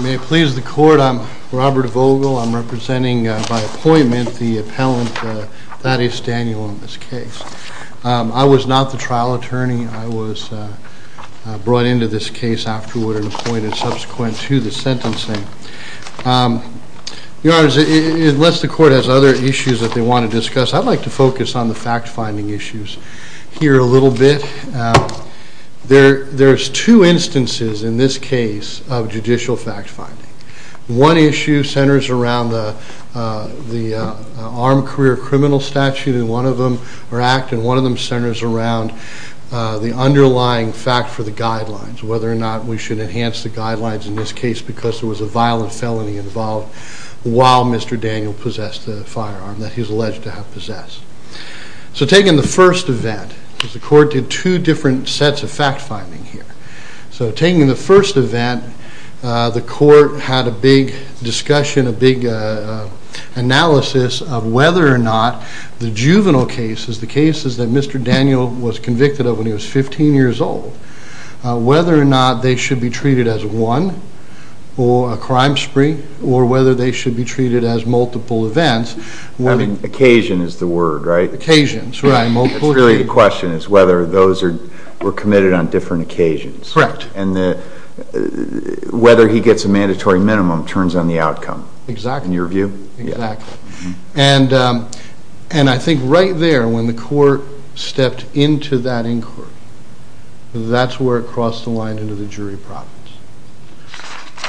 May it please the court I'm Robert Vogel I'm representing by appointment the brought into this case afterward and appointed subsequent to the sentencing. Your honors unless the court has other issues that they want to discuss I'd like to focus on the fact-finding issues here a little bit. There there's two instances in this case of judicial fact-finding. One issue centers around the the armed career criminal statute and one of them centers around the underlying fact for the guidelines whether or not we should enhance the guidelines in this case because there was a violent felony involved while Mr. Daniel possessed the firearm that he's alleged to have possessed. So taking the first event because the court did two different sets of fact-finding here. So taking the first event the court had a big discussion a big analysis of whether or not the juvenile cases the cases that Mr. Daniel was convicted of when he was 15 years old whether or not they should be treated as one or a crime spree or whether they should be treated as multiple events. I mean occasion is the word right? Occasions right. It's really the question is whether those are were committed on different occasions. Correct. And the whether he gets a mandatory minimum turns on the outcome. Exactly. In your view? Exactly and and I think right there when the court stepped into that inquiry that's where it crossed the line into the jury province.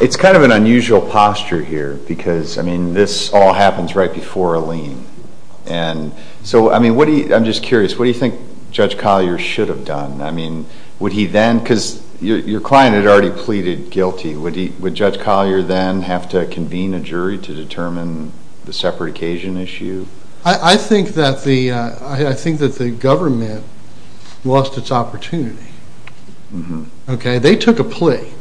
It's kind of an unusual posture here because I mean this all happens right before a lien and so I mean what do you I'm just curious what do you think Judge Collier should have done? I mean would he then because your client had already pleaded guilty would he would Judge Collier then have to convene a jury to determine the separate occasion issue? I think that the I think that the government lost its opportunity. Okay they took a plea.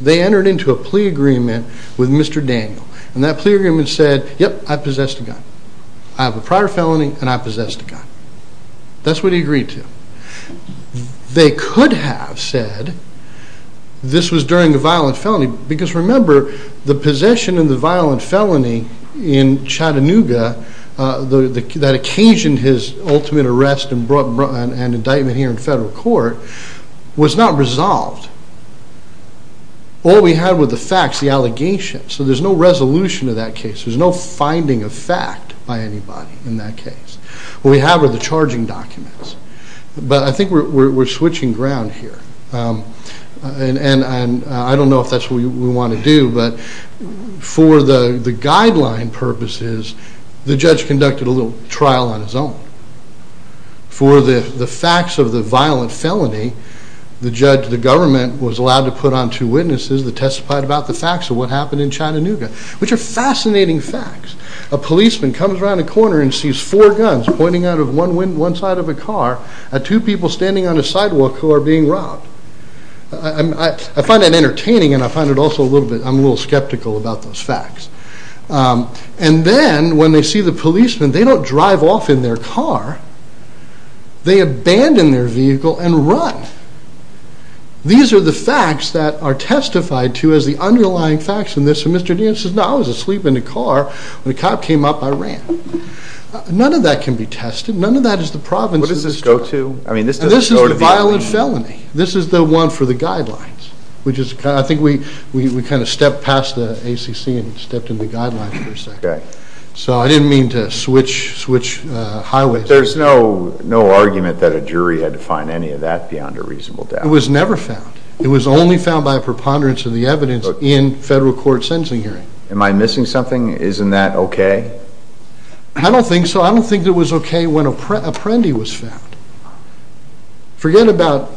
They entered into a plea agreement with Mr. Daniel and that plea agreement said yep I possessed a gun. I have a they could have said this was during a violent felony because remember the possession of the violent felony in Chattanooga that occasioned his ultimate arrest and brought an indictment here in federal court was not resolved. All we had were the facts, the allegations. So there's no resolution to that case. There's no finding of fact by anybody in that case. What we have are the charging documents but I think we're switching ground here and I don't know if that's what we want to do but for the guideline purposes the judge conducted a little trial on his own. For the facts of the violent felony the judge, the government was allowed to put on two witnesses that testified about the facts of what happened in Chattanooga which are fascinating facts. A car, two people standing on a sidewalk who are being robbed. I find that entertaining and I find it also a little bit, I'm a little skeptical about those facts and then when they see the policemen they don't drive off in their car. They abandon their vehicle and run. These are the facts that are testified to as the underlying facts in this and Mr. Daniel says no I was asleep in the car. When the cop came up I ran. None of that can be tested. None of that is the province's. What does this go to? I mean this is the violent felony. This is the one for the guidelines which is, I think we kind of stepped past the ACC and stepped in the guidelines for a second. Okay. So I didn't mean to switch highways. There's no argument that a jury had to find any of that beyond a reasonable doubt. It was never found. It was only found by a preponderance of the evidence in federal court Am I missing something? Isn't that okay? I don't think so. I don't think it was okay when Apprendi was found. Forget about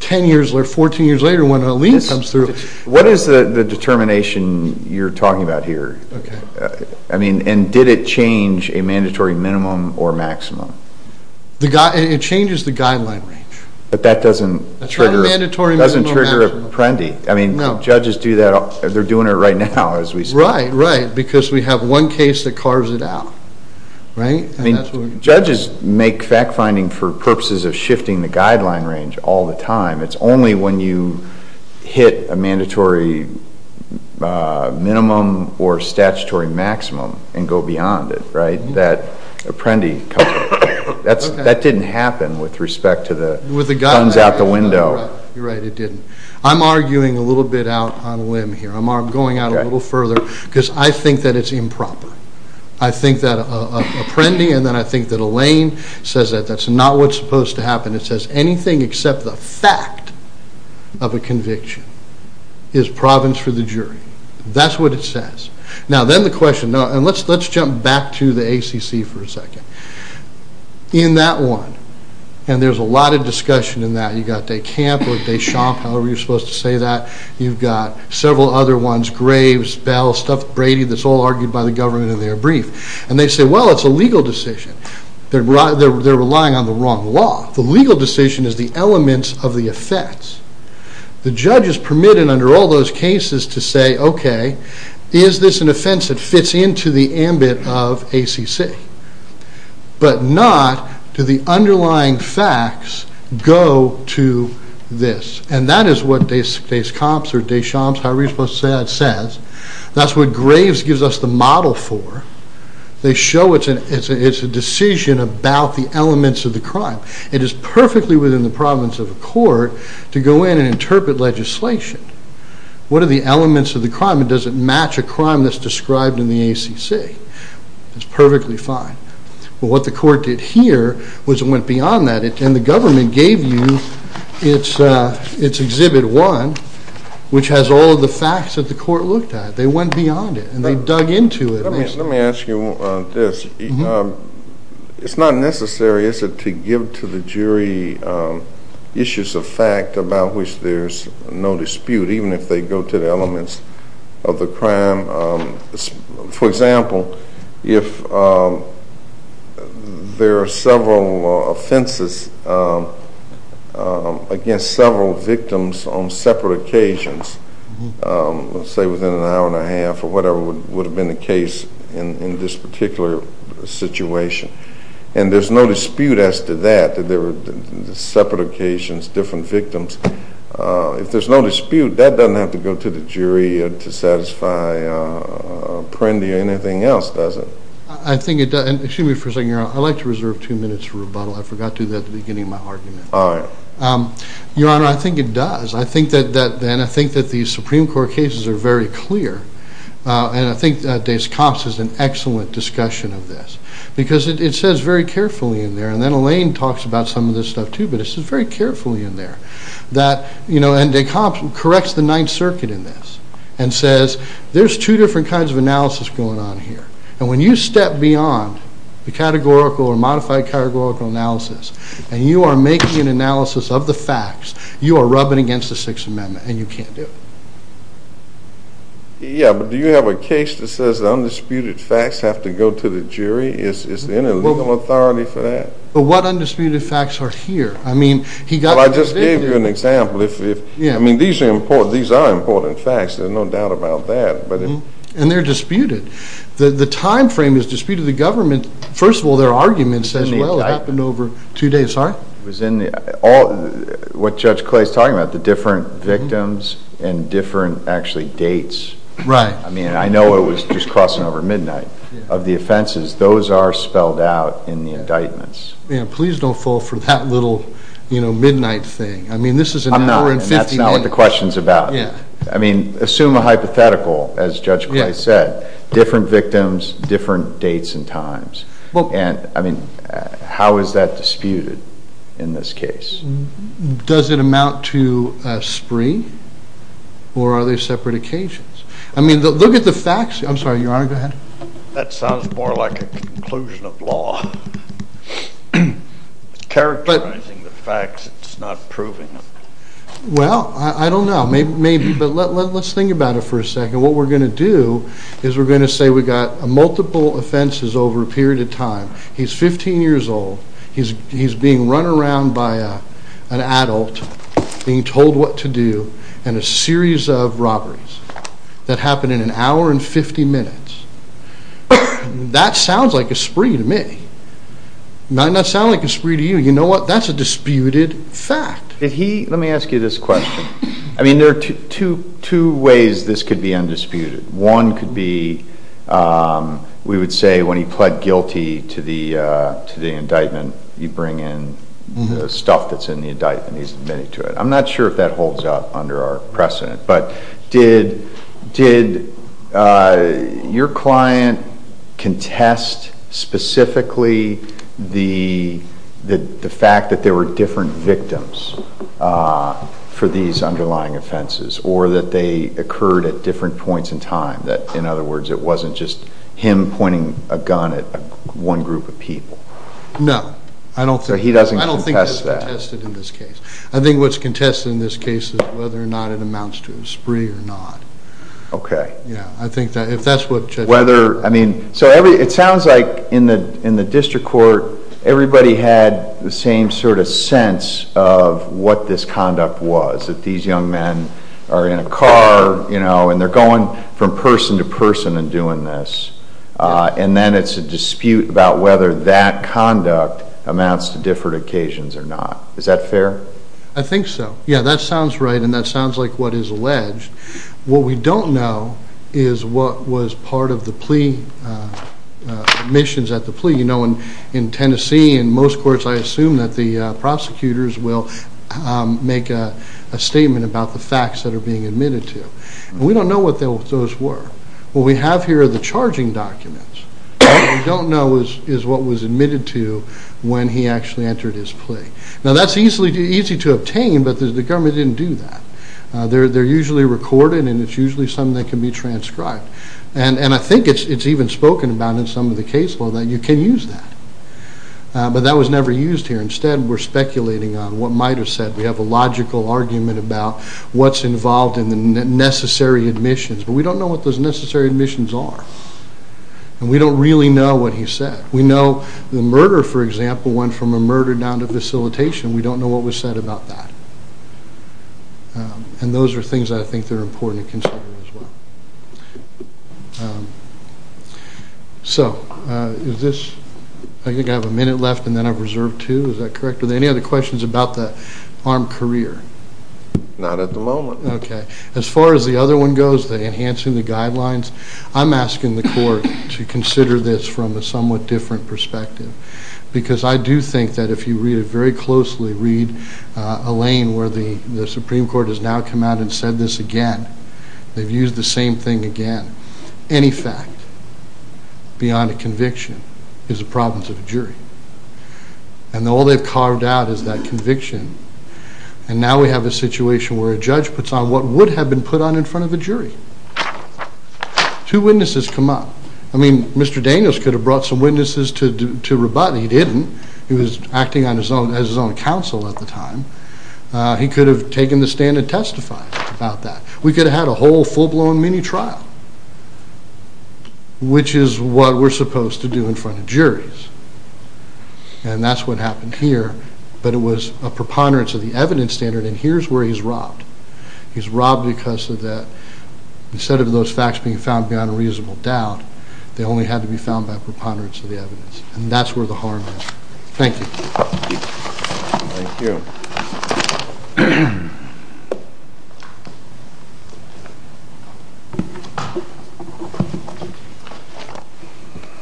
10 years or 14 years later when a lien comes through. What is the determination you're talking about here? Okay. I mean and did it change a mandatory minimum or maximum? It changes the guideline range. But that doesn't trigger Apprendi. I mean judges do that. They're doing it right now as we speak. Right. Because we have one case that carves it out. I mean judges make fact-finding for purposes of shifting the guideline range all the time. It's only when you hit a mandatory minimum or statutory maximum and go beyond it, right? That Apprendi, that didn't happen with respect to the guns out the window. You're right it didn't. I'm arguing a little bit out on a limb here. I'm going out a little further because I think that it's improper. I think that Apprendi and then I think that a lien says that that's not what's supposed to happen. It says anything except the fact of a conviction is province for the jury. That's what it says. Now then the question, and let's jump back to the ACC for a second. In that one, and there's a lot of discussion in that. You've got DeCamp or DeChamp, however you're supposed to say that. You've got several other ones, Graves, Bell, Brady, that's all argued by the government in their brief. And they say, well it's a legal decision. They're relying on the wrong law. The legal decision is the elements of the offense. The judge is permitted under all those cases to say, okay, is this an offense that to this. And that is what DeCamp or DeChamp, however you're supposed to say that, says. That's what Graves gives us the model for. They show it's a decision about the elements of the crime. It is perfectly within the province of a court to go in and interpret legislation. What are the elements of the crime and does it match a crime that's described in the ACC? It's perfectly fine. But what the court did here was it went beyond that and the government gave its Exhibit 1, which has all of the facts that the court looked at. They went beyond it and they dug into it. Let me ask you this. It's not necessary, is it, to give to the jury issues of fact about which there's no dispute, even if they go to the elements of the crime. For example, if there are several offenses against several victims on separate occasions, let's say within an hour and a half or whatever would have been the case in this particular situation. And there's no dispute as to that, that there were separate occasions, different victims. If there's no dispute, that doesn't have to go to the jury to satisfy Prendi or anything else, does it? I think it does. Excuse me for a second, Your Honor. I'd like to reserve two minutes for rebuttal. I forgot to do that at the beginning of my argument. All right. Your Honor, I think it does. I think that the Supreme Court cases are very clear. And I think Dase Cox is an excellent discussion of this because it says very carefully in there. And then Elaine talks about some of this stuff too, but it says very carefully in there that, you know, and Dase Cox corrects the Ninth Circuit in this and says there's two different kinds of analysis going on here. And when you step beyond the categorical or modified categorical analysis and you are making an analysis of the facts, you are rubbing against the Sixth Amendment and you can't do it. Yeah, but do you have a case that says the undisputed facts have to go to the jury? Is there any legal authority for that? But what undisputed facts are here? I mean, he got... Well, I just gave you an example. I mean, these are important facts. There's no doubt about that. And they're disputed. The time frame is disputed. The government, first of all, their argument says, well, it happened over two days. What Judge Clay is talking about, the different victims and different actually dates. I mean, I know it was just crossing over of the offenses. Those are spelled out in the indictments. Please don't fall for that little, you know, midnight thing. I mean, this is an hour and 50 minutes. That's not what the question's about. I mean, assume a hypothetical, as Judge Clay said, different victims, different dates and times. And I mean, how is that disputed in this case? Does it amount to a spree or are they separate occasions? I mean, look at the facts. I'm sorry, Your Honor, go ahead. That sounds more like a conclusion of law. Characterizing the facts, it's not proving them. Well, I don't know. Maybe, but let's think about it for a second. What we're going to do is we're going to say we got multiple offenses over a period of time. He's 15 years old. He's being run around by an adult, being told what to do, and a series of robberies that happen in an hour and 50 minutes. That sounds like a spree to me. It might not sound like a spree to you. You know what? That's a disputed fact. Let me ask you this question. I mean, there are two ways this could be undisputed. One could be, we would say, when he pled guilty to the indictment, you bring in the stuff that's in the indictment. He's admitted to it. I'm not sure if that holds up under our precedent, but did your client contest specifically the fact that there were different victims for these underlying offenses or that they occurred at different points in time, that it wasn't just him pointing a gun at one group of people? No, I don't think that's contested in this case. I think what's contested in this case is whether or not it amounts to a spree or not. Okay. Yeah, I think that if that's what... Whether, I mean, so every, it sounds like in the district court, everybody had the same sort of sense of what this conduct was, that these young are in a car, you know, and they're going from person to person and doing this. And then it's a dispute about whether that conduct amounts to different occasions or not. Is that fair? I think so. Yeah, that sounds right. And that sounds like what is alleged. What we don't know is what was part of the plea, admissions at the plea. You know, in Tennessee, in most courts, I assume that the prosecutors will make a statement about the facts that are being admitted to. And we don't know what those were. What we have here are the charging documents. What we don't know is what was admitted to when he actually entered his plea. Now, that's easy to obtain, but the government didn't do that. They're usually recorded, and it's usually something that can be transcribed. And I think it's even spoken about in some of the case law that you can use that. But that was never used here. Instead, we're speculating on what might have said. We have a logical argument about what's involved in the necessary admissions, but we don't know what those necessary admissions are. And we don't really know what he said. We know the murder, for example, went from a murder down to facilitation. We don't know what was said about that. And those are things I think that are important to consider as well. So, is this, I think I have a minute left, and then I've reserved two. Is that correct? Are there any other questions about the armed career? Not at the moment. Okay. As far as the other one goes, the enhancing the guidelines, I'm asking the court to consider this from a somewhat different perspective. Because I do think that if you read it very closely, read Elaine, where the Supreme Court has now come out and said this again, they've used the same thing again. Any fact beyond a conviction is a problem to the jury. And all they've carved out is that conviction. And now we have a situation where a judge puts on what would have been put on in front of the jury. Two witnesses come up. I mean, Mr. Daniels could have brought some he could have taken the stand and testified about that. We could have had a whole full-blown mini-trial, which is what we're supposed to do in front of juries. And that's what happened here. But it was a preponderance of the evidence standard, and here's where he's robbed. He's robbed because of that. Instead of those facts being found beyond a reasonable doubt, they only had to be found by preponderance of the evidence. And that's where the harm is. Thank you.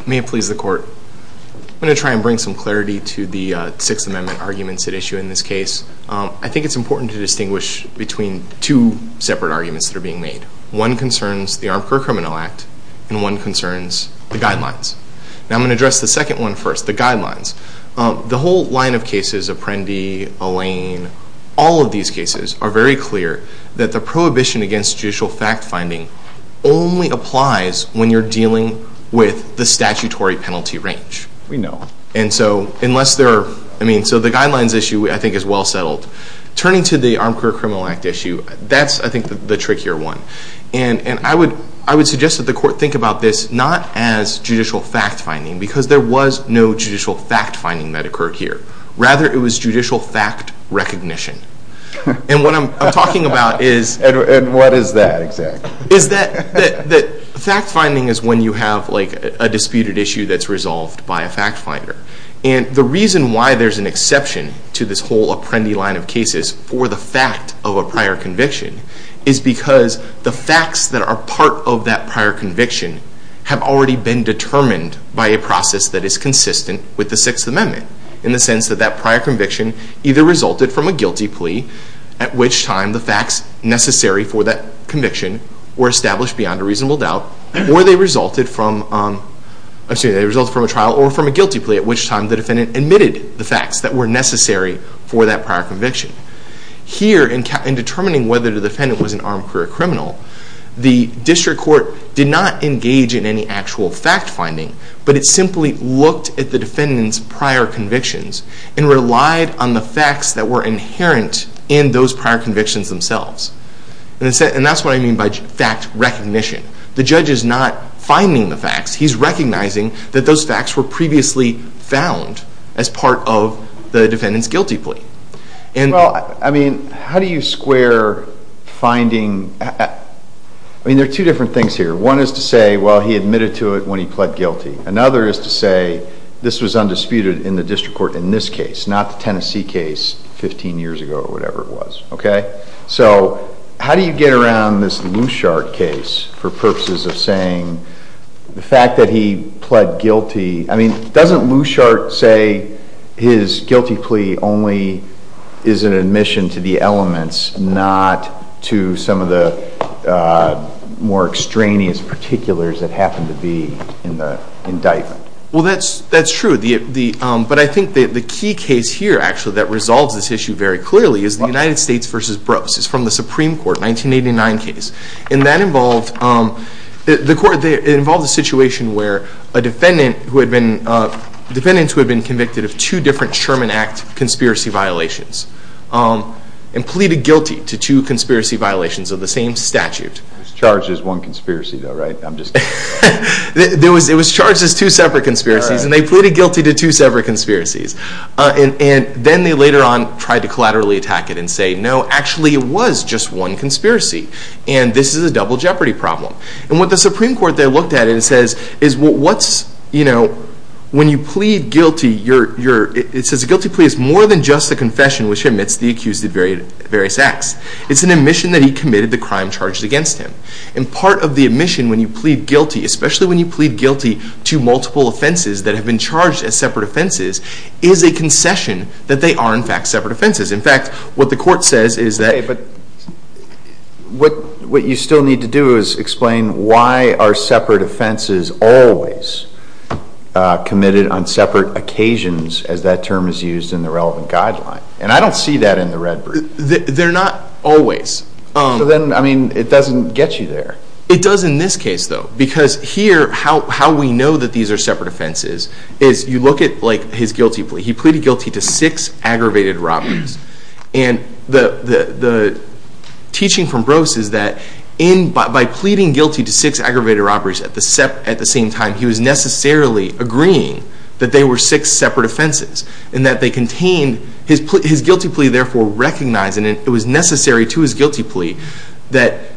May it please the Court. I'm going to try and bring some clarity to the Sixth Amendment arguments at issue in this case. I think it's important to distinguish between two separate arguments that are being made. One concerns the Armed Career Criminal Act, and one concerns the Guidelines. Now I'm going to address the second one first, the Guidelines. The whole line of cases, Apprendi, Alain, all of these cases are very clear that the prohibition against judicial fact-finding only applies when you're dealing with the statutory penalty range. We know. So the Guidelines issue I think is well settled. Turning to the Armed Career Criminal Act issue, that's I think the trickier one. And I would suggest that the Court think about this not as judicial fact-finding, because there was no judicial fact-finding that occurred here. Rather, it was judicial fact recognition. And what I'm talking about is... And what is that exactly? Is that fact-finding is when you have a disputed issue that's resolved by a fact-finder. And the reason why there's an exception to this whole Apprendi line of cases for the fact of a prior conviction is because the facts that are part of that prior conviction have already been determined by a process that is consistent with the Sixth Amendment, in the sense that that prior conviction either resulted from a guilty plea, at which time the facts necessary for that conviction were established beyond a reasonable doubt, or they resulted from a trial or from a guilty plea, at which time the defendant admitted the facts that were necessary for that prior conviction. Here, in determining whether the defendant was an armed career criminal, the District Court did not engage in any actual fact-finding, but it simply looked at the defendant's prior convictions and relied on the facts that were inherent in those prior convictions themselves. And that's what I mean by fact recognition. The judge is not finding the facts, he's recognizing that those facts were previously found as part of the defendant's guilty plea. And well, I mean, how do you square finding? I mean, there are two different things here. One is to say, well, he admitted to it when he pled guilty. Another is to say, this was undisputed in the District Court in this case, not the Tennessee case 15 years ago or whatever it was. Okay? So how do you get around this Lushart case for purposes of saying the fact that he guilty plea only is an admission to the elements, not to some of the more extraneous particulars that happen to be in the indictment? Well, that's true. But I think the key case here, actually, that resolves this issue very clearly is the United States v. Brose. It's from the Supreme Court, 1989 case. And that involved a situation where a defendant who had been convicted of two different Sherman Act conspiracy violations and pleaded guilty to two conspiracy violations of the same statute. It was charged as one conspiracy though, right? I'm just... It was charged as two separate conspiracies and they pleaded guilty to two separate conspiracies. And then they later on tried to collaterally attack it and say, no, actually it was just one conspiracy and this is a double jeopardy problem. And what the Supreme Court there says is when you plead guilty, it says a guilty plea is more than just a confession which admits the accused of various acts. It's an admission that he committed the crime charged against him. And part of the admission when you plead guilty, especially when you plead guilty to multiple offenses that have been charged as separate offenses, is a concession that they are in fact separate offenses. In fact, what the court says is that... Always committed on separate occasions as that term is used in the relevant guideline. And I don't see that in the red brief. They're not always. So then, I mean, it doesn't get you there. It does in this case though. Because here, how we know that these are separate offenses is you look at his guilty plea. He pleaded guilty to six aggravated robberies. And the at the same time, he was necessarily agreeing that they were six separate offenses and that they contained... His guilty plea therefore recognized, and it was necessary to his guilty plea, that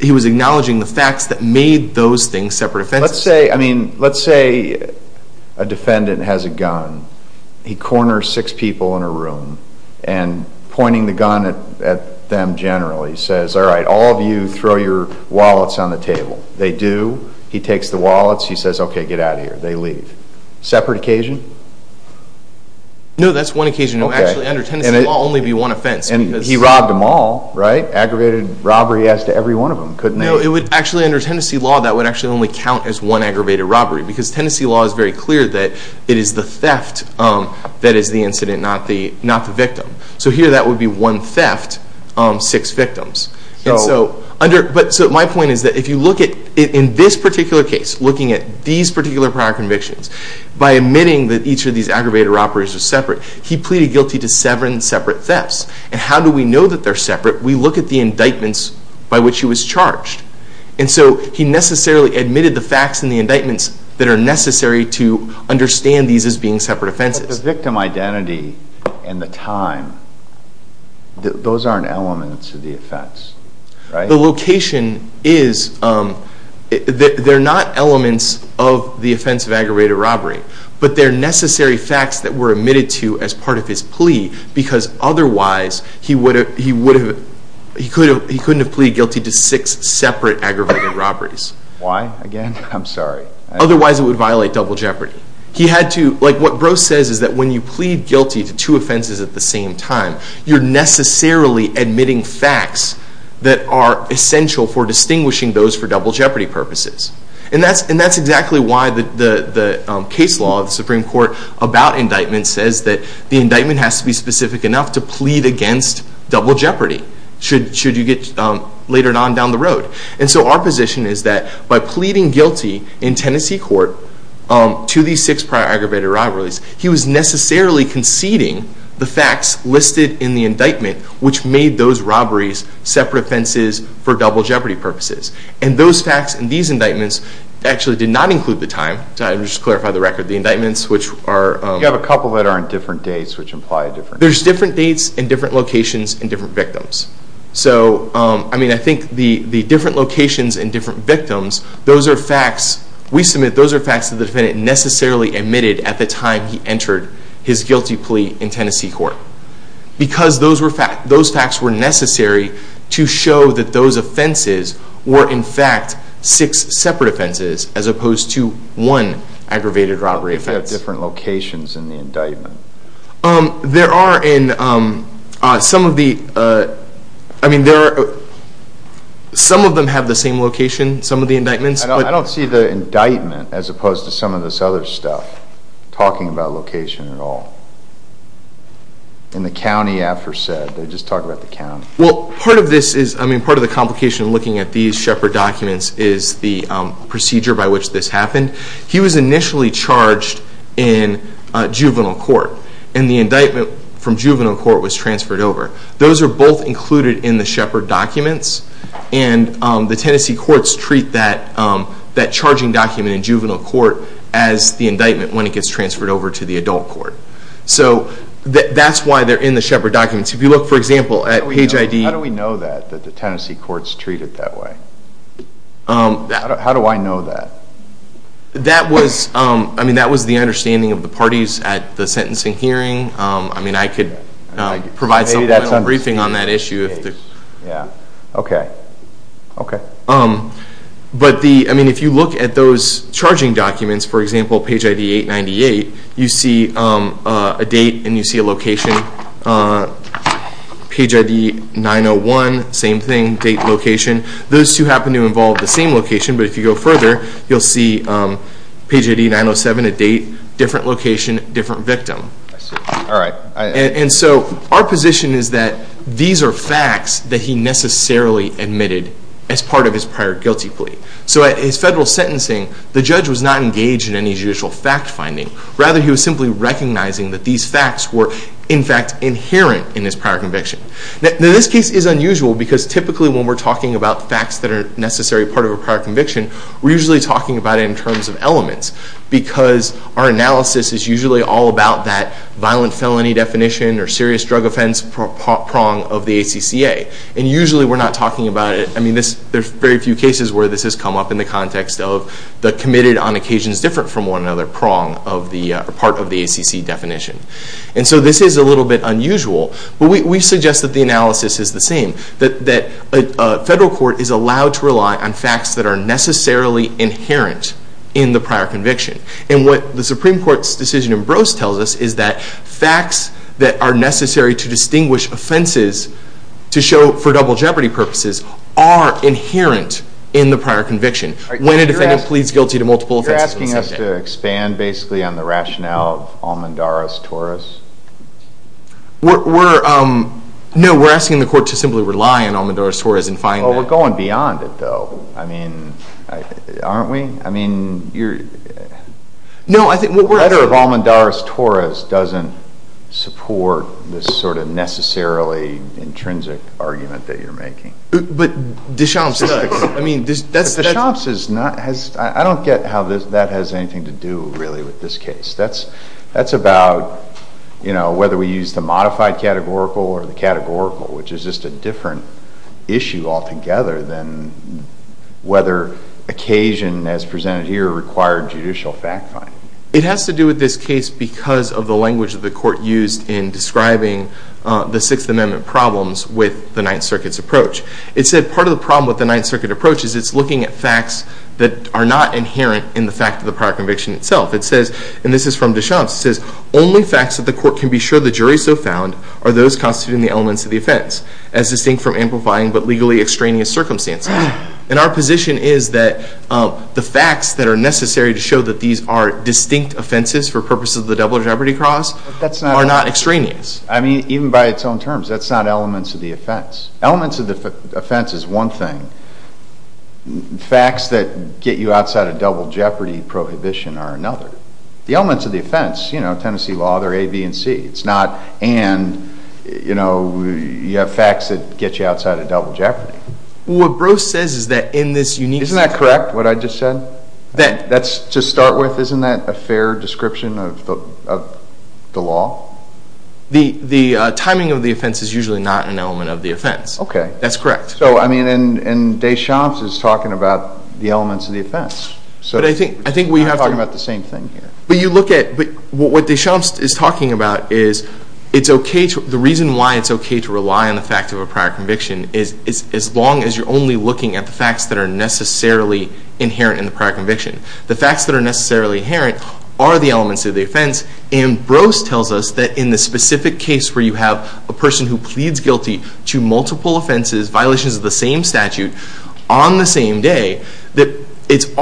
he was acknowledging the facts that made those things separate offenses. Let's say, I mean, let's say a defendant has a gun. He corners six people in a room and pointing the gun at them generally says, all right, all of you throw your wallets on the wall. He says, okay, get out of here. They leave. Separate occasion? No, that's one occasion. Actually, under Tennessee law, it would only be one offense. And he robbed them all, right? Aggravated robbery as to every one of them, couldn't he? No, it would actually, under Tennessee law, that would actually only count as one aggravated robbery. Because Tennessee law is very clear that it is the theft that is the incident, not the victim. So here, that would be one theft, six victims. So my point is that if you look at, in this particular case, looking at these particular prior convictions, by admitting that each of these aggravated robberies are separate, he pleaded guilty to seven separate thefts. And how do we know that they're separate? We look at the indictments by which he was charged. And so he necessarily admitted the facts in the indictments that are necessary to understand these as being separate offenses. But the victim identity and the time, those aren't elements of the offense, right? The location is, they're not elements of the offense of aggravated robbery. But they're necessary facts that were admitted to as part of his plea. Because otherwise, he couldn't have pleaded guilty to six separate aggravated robberies. Why, again? I'm sorry. Otherwise, it would violate double jeopardy. He had to, like what guilty to two offenses at the same time, you're necessarily admitting facts that are essential for distinguishing those for double jeopardy purposes. And that's exactly why the case law of the Supreme Court about indictments says that the indictment has to be specific enough to plead against double jeopardy, should you get later on down the road. And so our position is that by pleading guilty in Tennessee court to these six prior aggravated robberies, he was necessarily conceding the facts listed in the indictment, which made those robberies separate offenses for double jeopardy purposes. And those facts in these indictments actually did not include the time. To just clarify the record, the indictments, which are... You have a couple that are on different dates, which imply a different... There's different dates and different locations and different victims. So, I mean, I think the different locations and different victims, those are facts. We submit those are facts that the defendant necessarily admitted at the time he entered his guilty plea in Tennessee court. Because those facts were necessary to show that those offenses were in fact six separate offenses as opposed to one aggravated robbery. Different locations in the indictment. There are in some of the... I mean, there are... Some of them have the same location, some of the indictments. I don't see the indictment as opposed to some of this other stuff, talking about location at all. In the county after said, they just talk about the county. Well, part of this is, I mean, part of the complication looking at these shepherd documents is the procedure by which this happened. He was initially charged in juvenile court and the indictment from juvenile court was transferred over. Those are both included in the shepherd documents and the Tennessee courts treat that charging document in juvenile court as the indictment when it gets transferred over to the adult court. So, that's why they're in the shepherd documents. If you look, for example, at page ID... How do we know that, that the Tennessee courts treat it that way? How do I know that? That was, I mean, that was the understanding of the parties at the sentencing hearing. I mean, I could provide some briefing on that issue. Yeah, okay. Okay. But the, I mean, if you look at those charging documents, for example, page ID 898, you see a date and you see location. Page ID 901, same thing, date, location. Those two happen to involve the same location, but if you go further, you'll see page ID 907, a date, different location, different victim. All right. And so, our position is that these are facts that he necessarily admitted as part of his prior guilty plea. So, at his federal sentencing, the judge was not engaged in any fact-finding. Rather, he was simply recognizing that these facts were, in fact, inherent in his prior conviction. Now, this case is unusual because typically when we're talking about facts that are necessary part of a prior conviction, we're usually talking about it in terms of elements because our analysis is usually all about that violent felony definition or serious drug offense prong of the ACCA. And usually, we're not talking about it. I mean, this, there's very few cases where this has come up in the context of the committed on occasions different from one another prong of the part of the ACC definition. And so, this is a little bit unusual, but we suggest that the analysis is the same, that a federal court is allowed to rely on facts that are necessarily inherent in the prior conviction. And what the Supreme Court's decision in Brose tells us is that facts that are necessary to distinguish offenses to show for double jeopardy purposes are inherent in the prior conviction. When a defendant pleads guilty to multiple offenses... You're asking us to expand basically on the rationale of almondaris torus? We're, no, we're asking the court to simply rely on almondaris torus and find that... Well, we're going beyond it though. I mean, aren't we? I mean, you're... No, I think what we're... Letter of almondaris torus doesn't support this sort of necessarily intrinsic argument that you're making. But Deschamps does. I mean, that's... Deschamps is not... I don't get how that has anything to do really with this case. That's about whether we use the modified categorical or the categorical, which is just a different issue altogether than whether occasion as presented here required judicial fact-finding. It has to do with this case because of the language that the court used in describing the Sixth Amendment problems with the Ninth Circuit's approach. It said part of the problem with the Ninth Circuit approach is it's looking at facts that are not inherent in the fact of the prior conviction itself. It says, and this is from Deschamps, it says, only facts that the court can be sure the jury so found are those constituting the elements of the offense as distinct from amplifying but legally extraneous circumstances. And our position is that the facts that are necessary to show that these are distinct offenses for purposes of the double jeopardy cause are not extraneous. I mean, even by its own terms, that's not elements of the offense. Elements of the offense is one thing. Facts that get you outside of double jeopardy prohibition are another. The elements of the offense, you know, Tennessee law, they're A, B, and C. It's not and, you know, you have facts that get you outside of double jeopardy. What Bruce says is that in this unique... Isn't that correct, what I just said? That's to start with, isn't that a fair description of the law? The timing of the offense is usually not an element of the offense. Okay. That's correct. So, I mean, and Deschamps is talking about the elements of the offense. But I think we have to... I'm talking about the same thing here. But you look at, what Deschamps is talking about is it's okay to, the reason why it's okay to rely on the fact of a prior conviction is as long as you're only looking at the facts that are necessarily inherent in the prior conviction. The facts that are necessarily inherent are the elements of the offense. And Bruce tells us that in the specific case where you have a person who pleads guilty to multiple offenses, violations of the same statute on the same day, that it's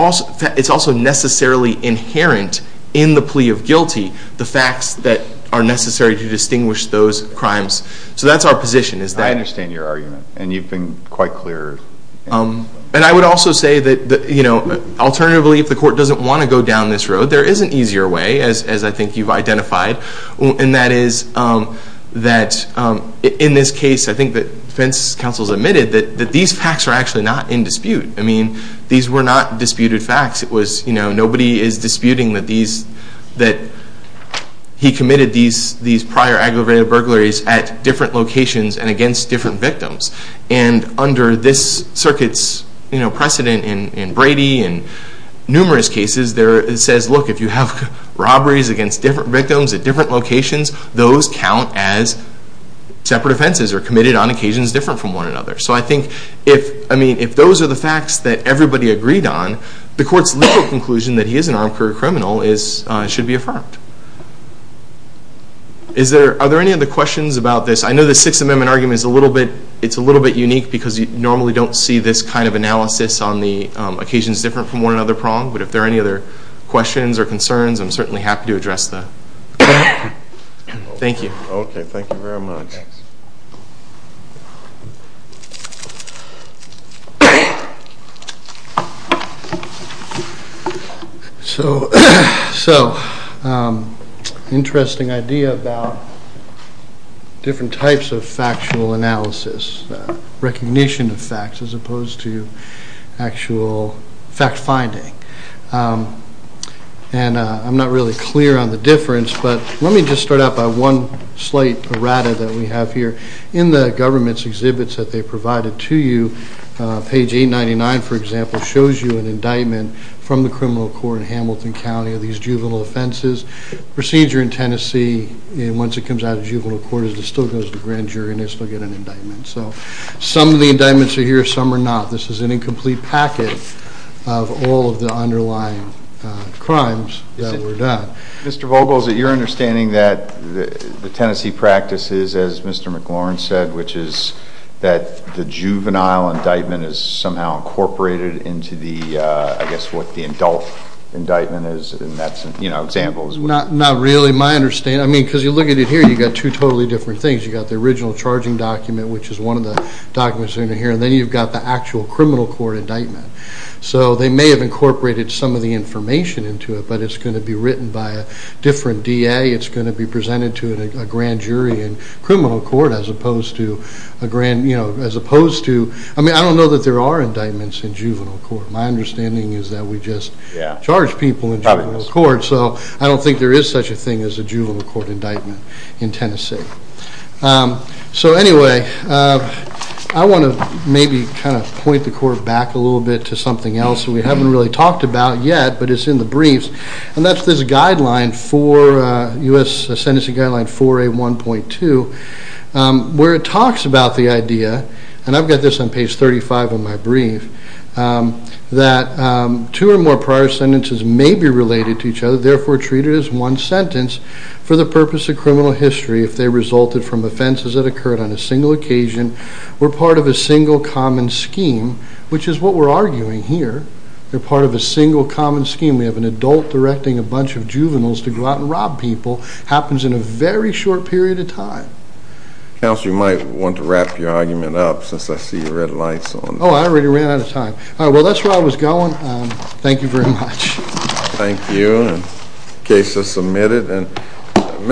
also necessarily inherent in the plea of guilty, the facts that are necessary to distinguish those crimes. So that's our position is that... I understand your argument and you've been quite clear. And I would also say that, you know, alternatively, if the court doesn't want to go down this road, there is an easier way, as I think you've identified. And that is that in this case, I think the defense counsel has admitted that these facts are actually not in dispute. I mean, these were not disputed facts. It was, you know, nobody is disputing that he committed these prior aggravated burglaries at different locations and against different victims. And under this circuit's, you know, precedent in Brady and numerous cases, it says, look, if you have robberies against different victims at different locations, those count as separate offenses or committed on occasions different from one another. So I think if, I mean, if those are the facts that everybody agreed on, the court's legal conclusion that he is an armed career criminal should be affirmed. Are there any other questions about this? I know the Sixth Amendment argument is a little bit, it's a little bit unique because you normally don't see this kind of analysis on the occasions different from one another prong. But if there are any other questions or concerns, I'm certainly happy to address that. Thank you. Okay. Thank you very much. So, interesting idea about different types of factual analysis, recognition of facts as opposed to actual fact finding. And I'm not really clear on the difference, but let me just start out by one slight errata that we have here. In the government's exhibits that they provided to you, page 899, for example, shows you an indictment from the criminal court in Hamilton County of these juvenile offenses. Procedure in Tennessee, once it comes out of juvenile court, is it still goes to grand jury and they still get an indictment. So some of the indictments are here, some are not. This is an incomplete packet of all of the underlying crimes that were done. Mr. Vogel, is it your understanding that the Tennessee practice is, as Mr. McLaurin said, which is that the juvenile indictment is somehow incorporated into the, I guess, what the adult indictment is? And that's an example. Not really my understanding. I mean, because you look at it here, you've got two totally different things. You've got the original charging document, which is one of the documents in here. And then you've got the actual criminal court indictment. So they may have incorporated some of the information into it, but it's going to be different DA. It's going to be presented to a grand jury in criminal court as opposed to a grand, you know, as opposed to, I mean, I don't know that there are indictments in juvenile court. My understanding is that we just charge people in juvenile court. So I don't think there is such a thing as a juvenile court indictment in Tennessee. So anyway, I want to maybe kind of point the court back a little bit to something else that we haven't really talked about yet, but it's in the briefs. That's this guideline for U.S. Sentencing Guideline 4A1.2, where it talks about the idea, and I've got this on page 35 of my brief, that two or more prior sentences may be related to each other. Therefore, treat it as one sentence for the purpose of criminal history. If they resulted from offenses that occurred on a single occasion, were part of a single common scheme, which is what we're arguing here. They're part of a single common scheme. We have an adult directing a bunch of juveniles to go out and rob people. Happens in a very short period of time. Counsel, you might want to wrap your argument up, since I see red lights on. Oh, I already ran out of time. All right. Well, that's where I was going. Thank you very much. Thank you. Case is submitted. And Mr.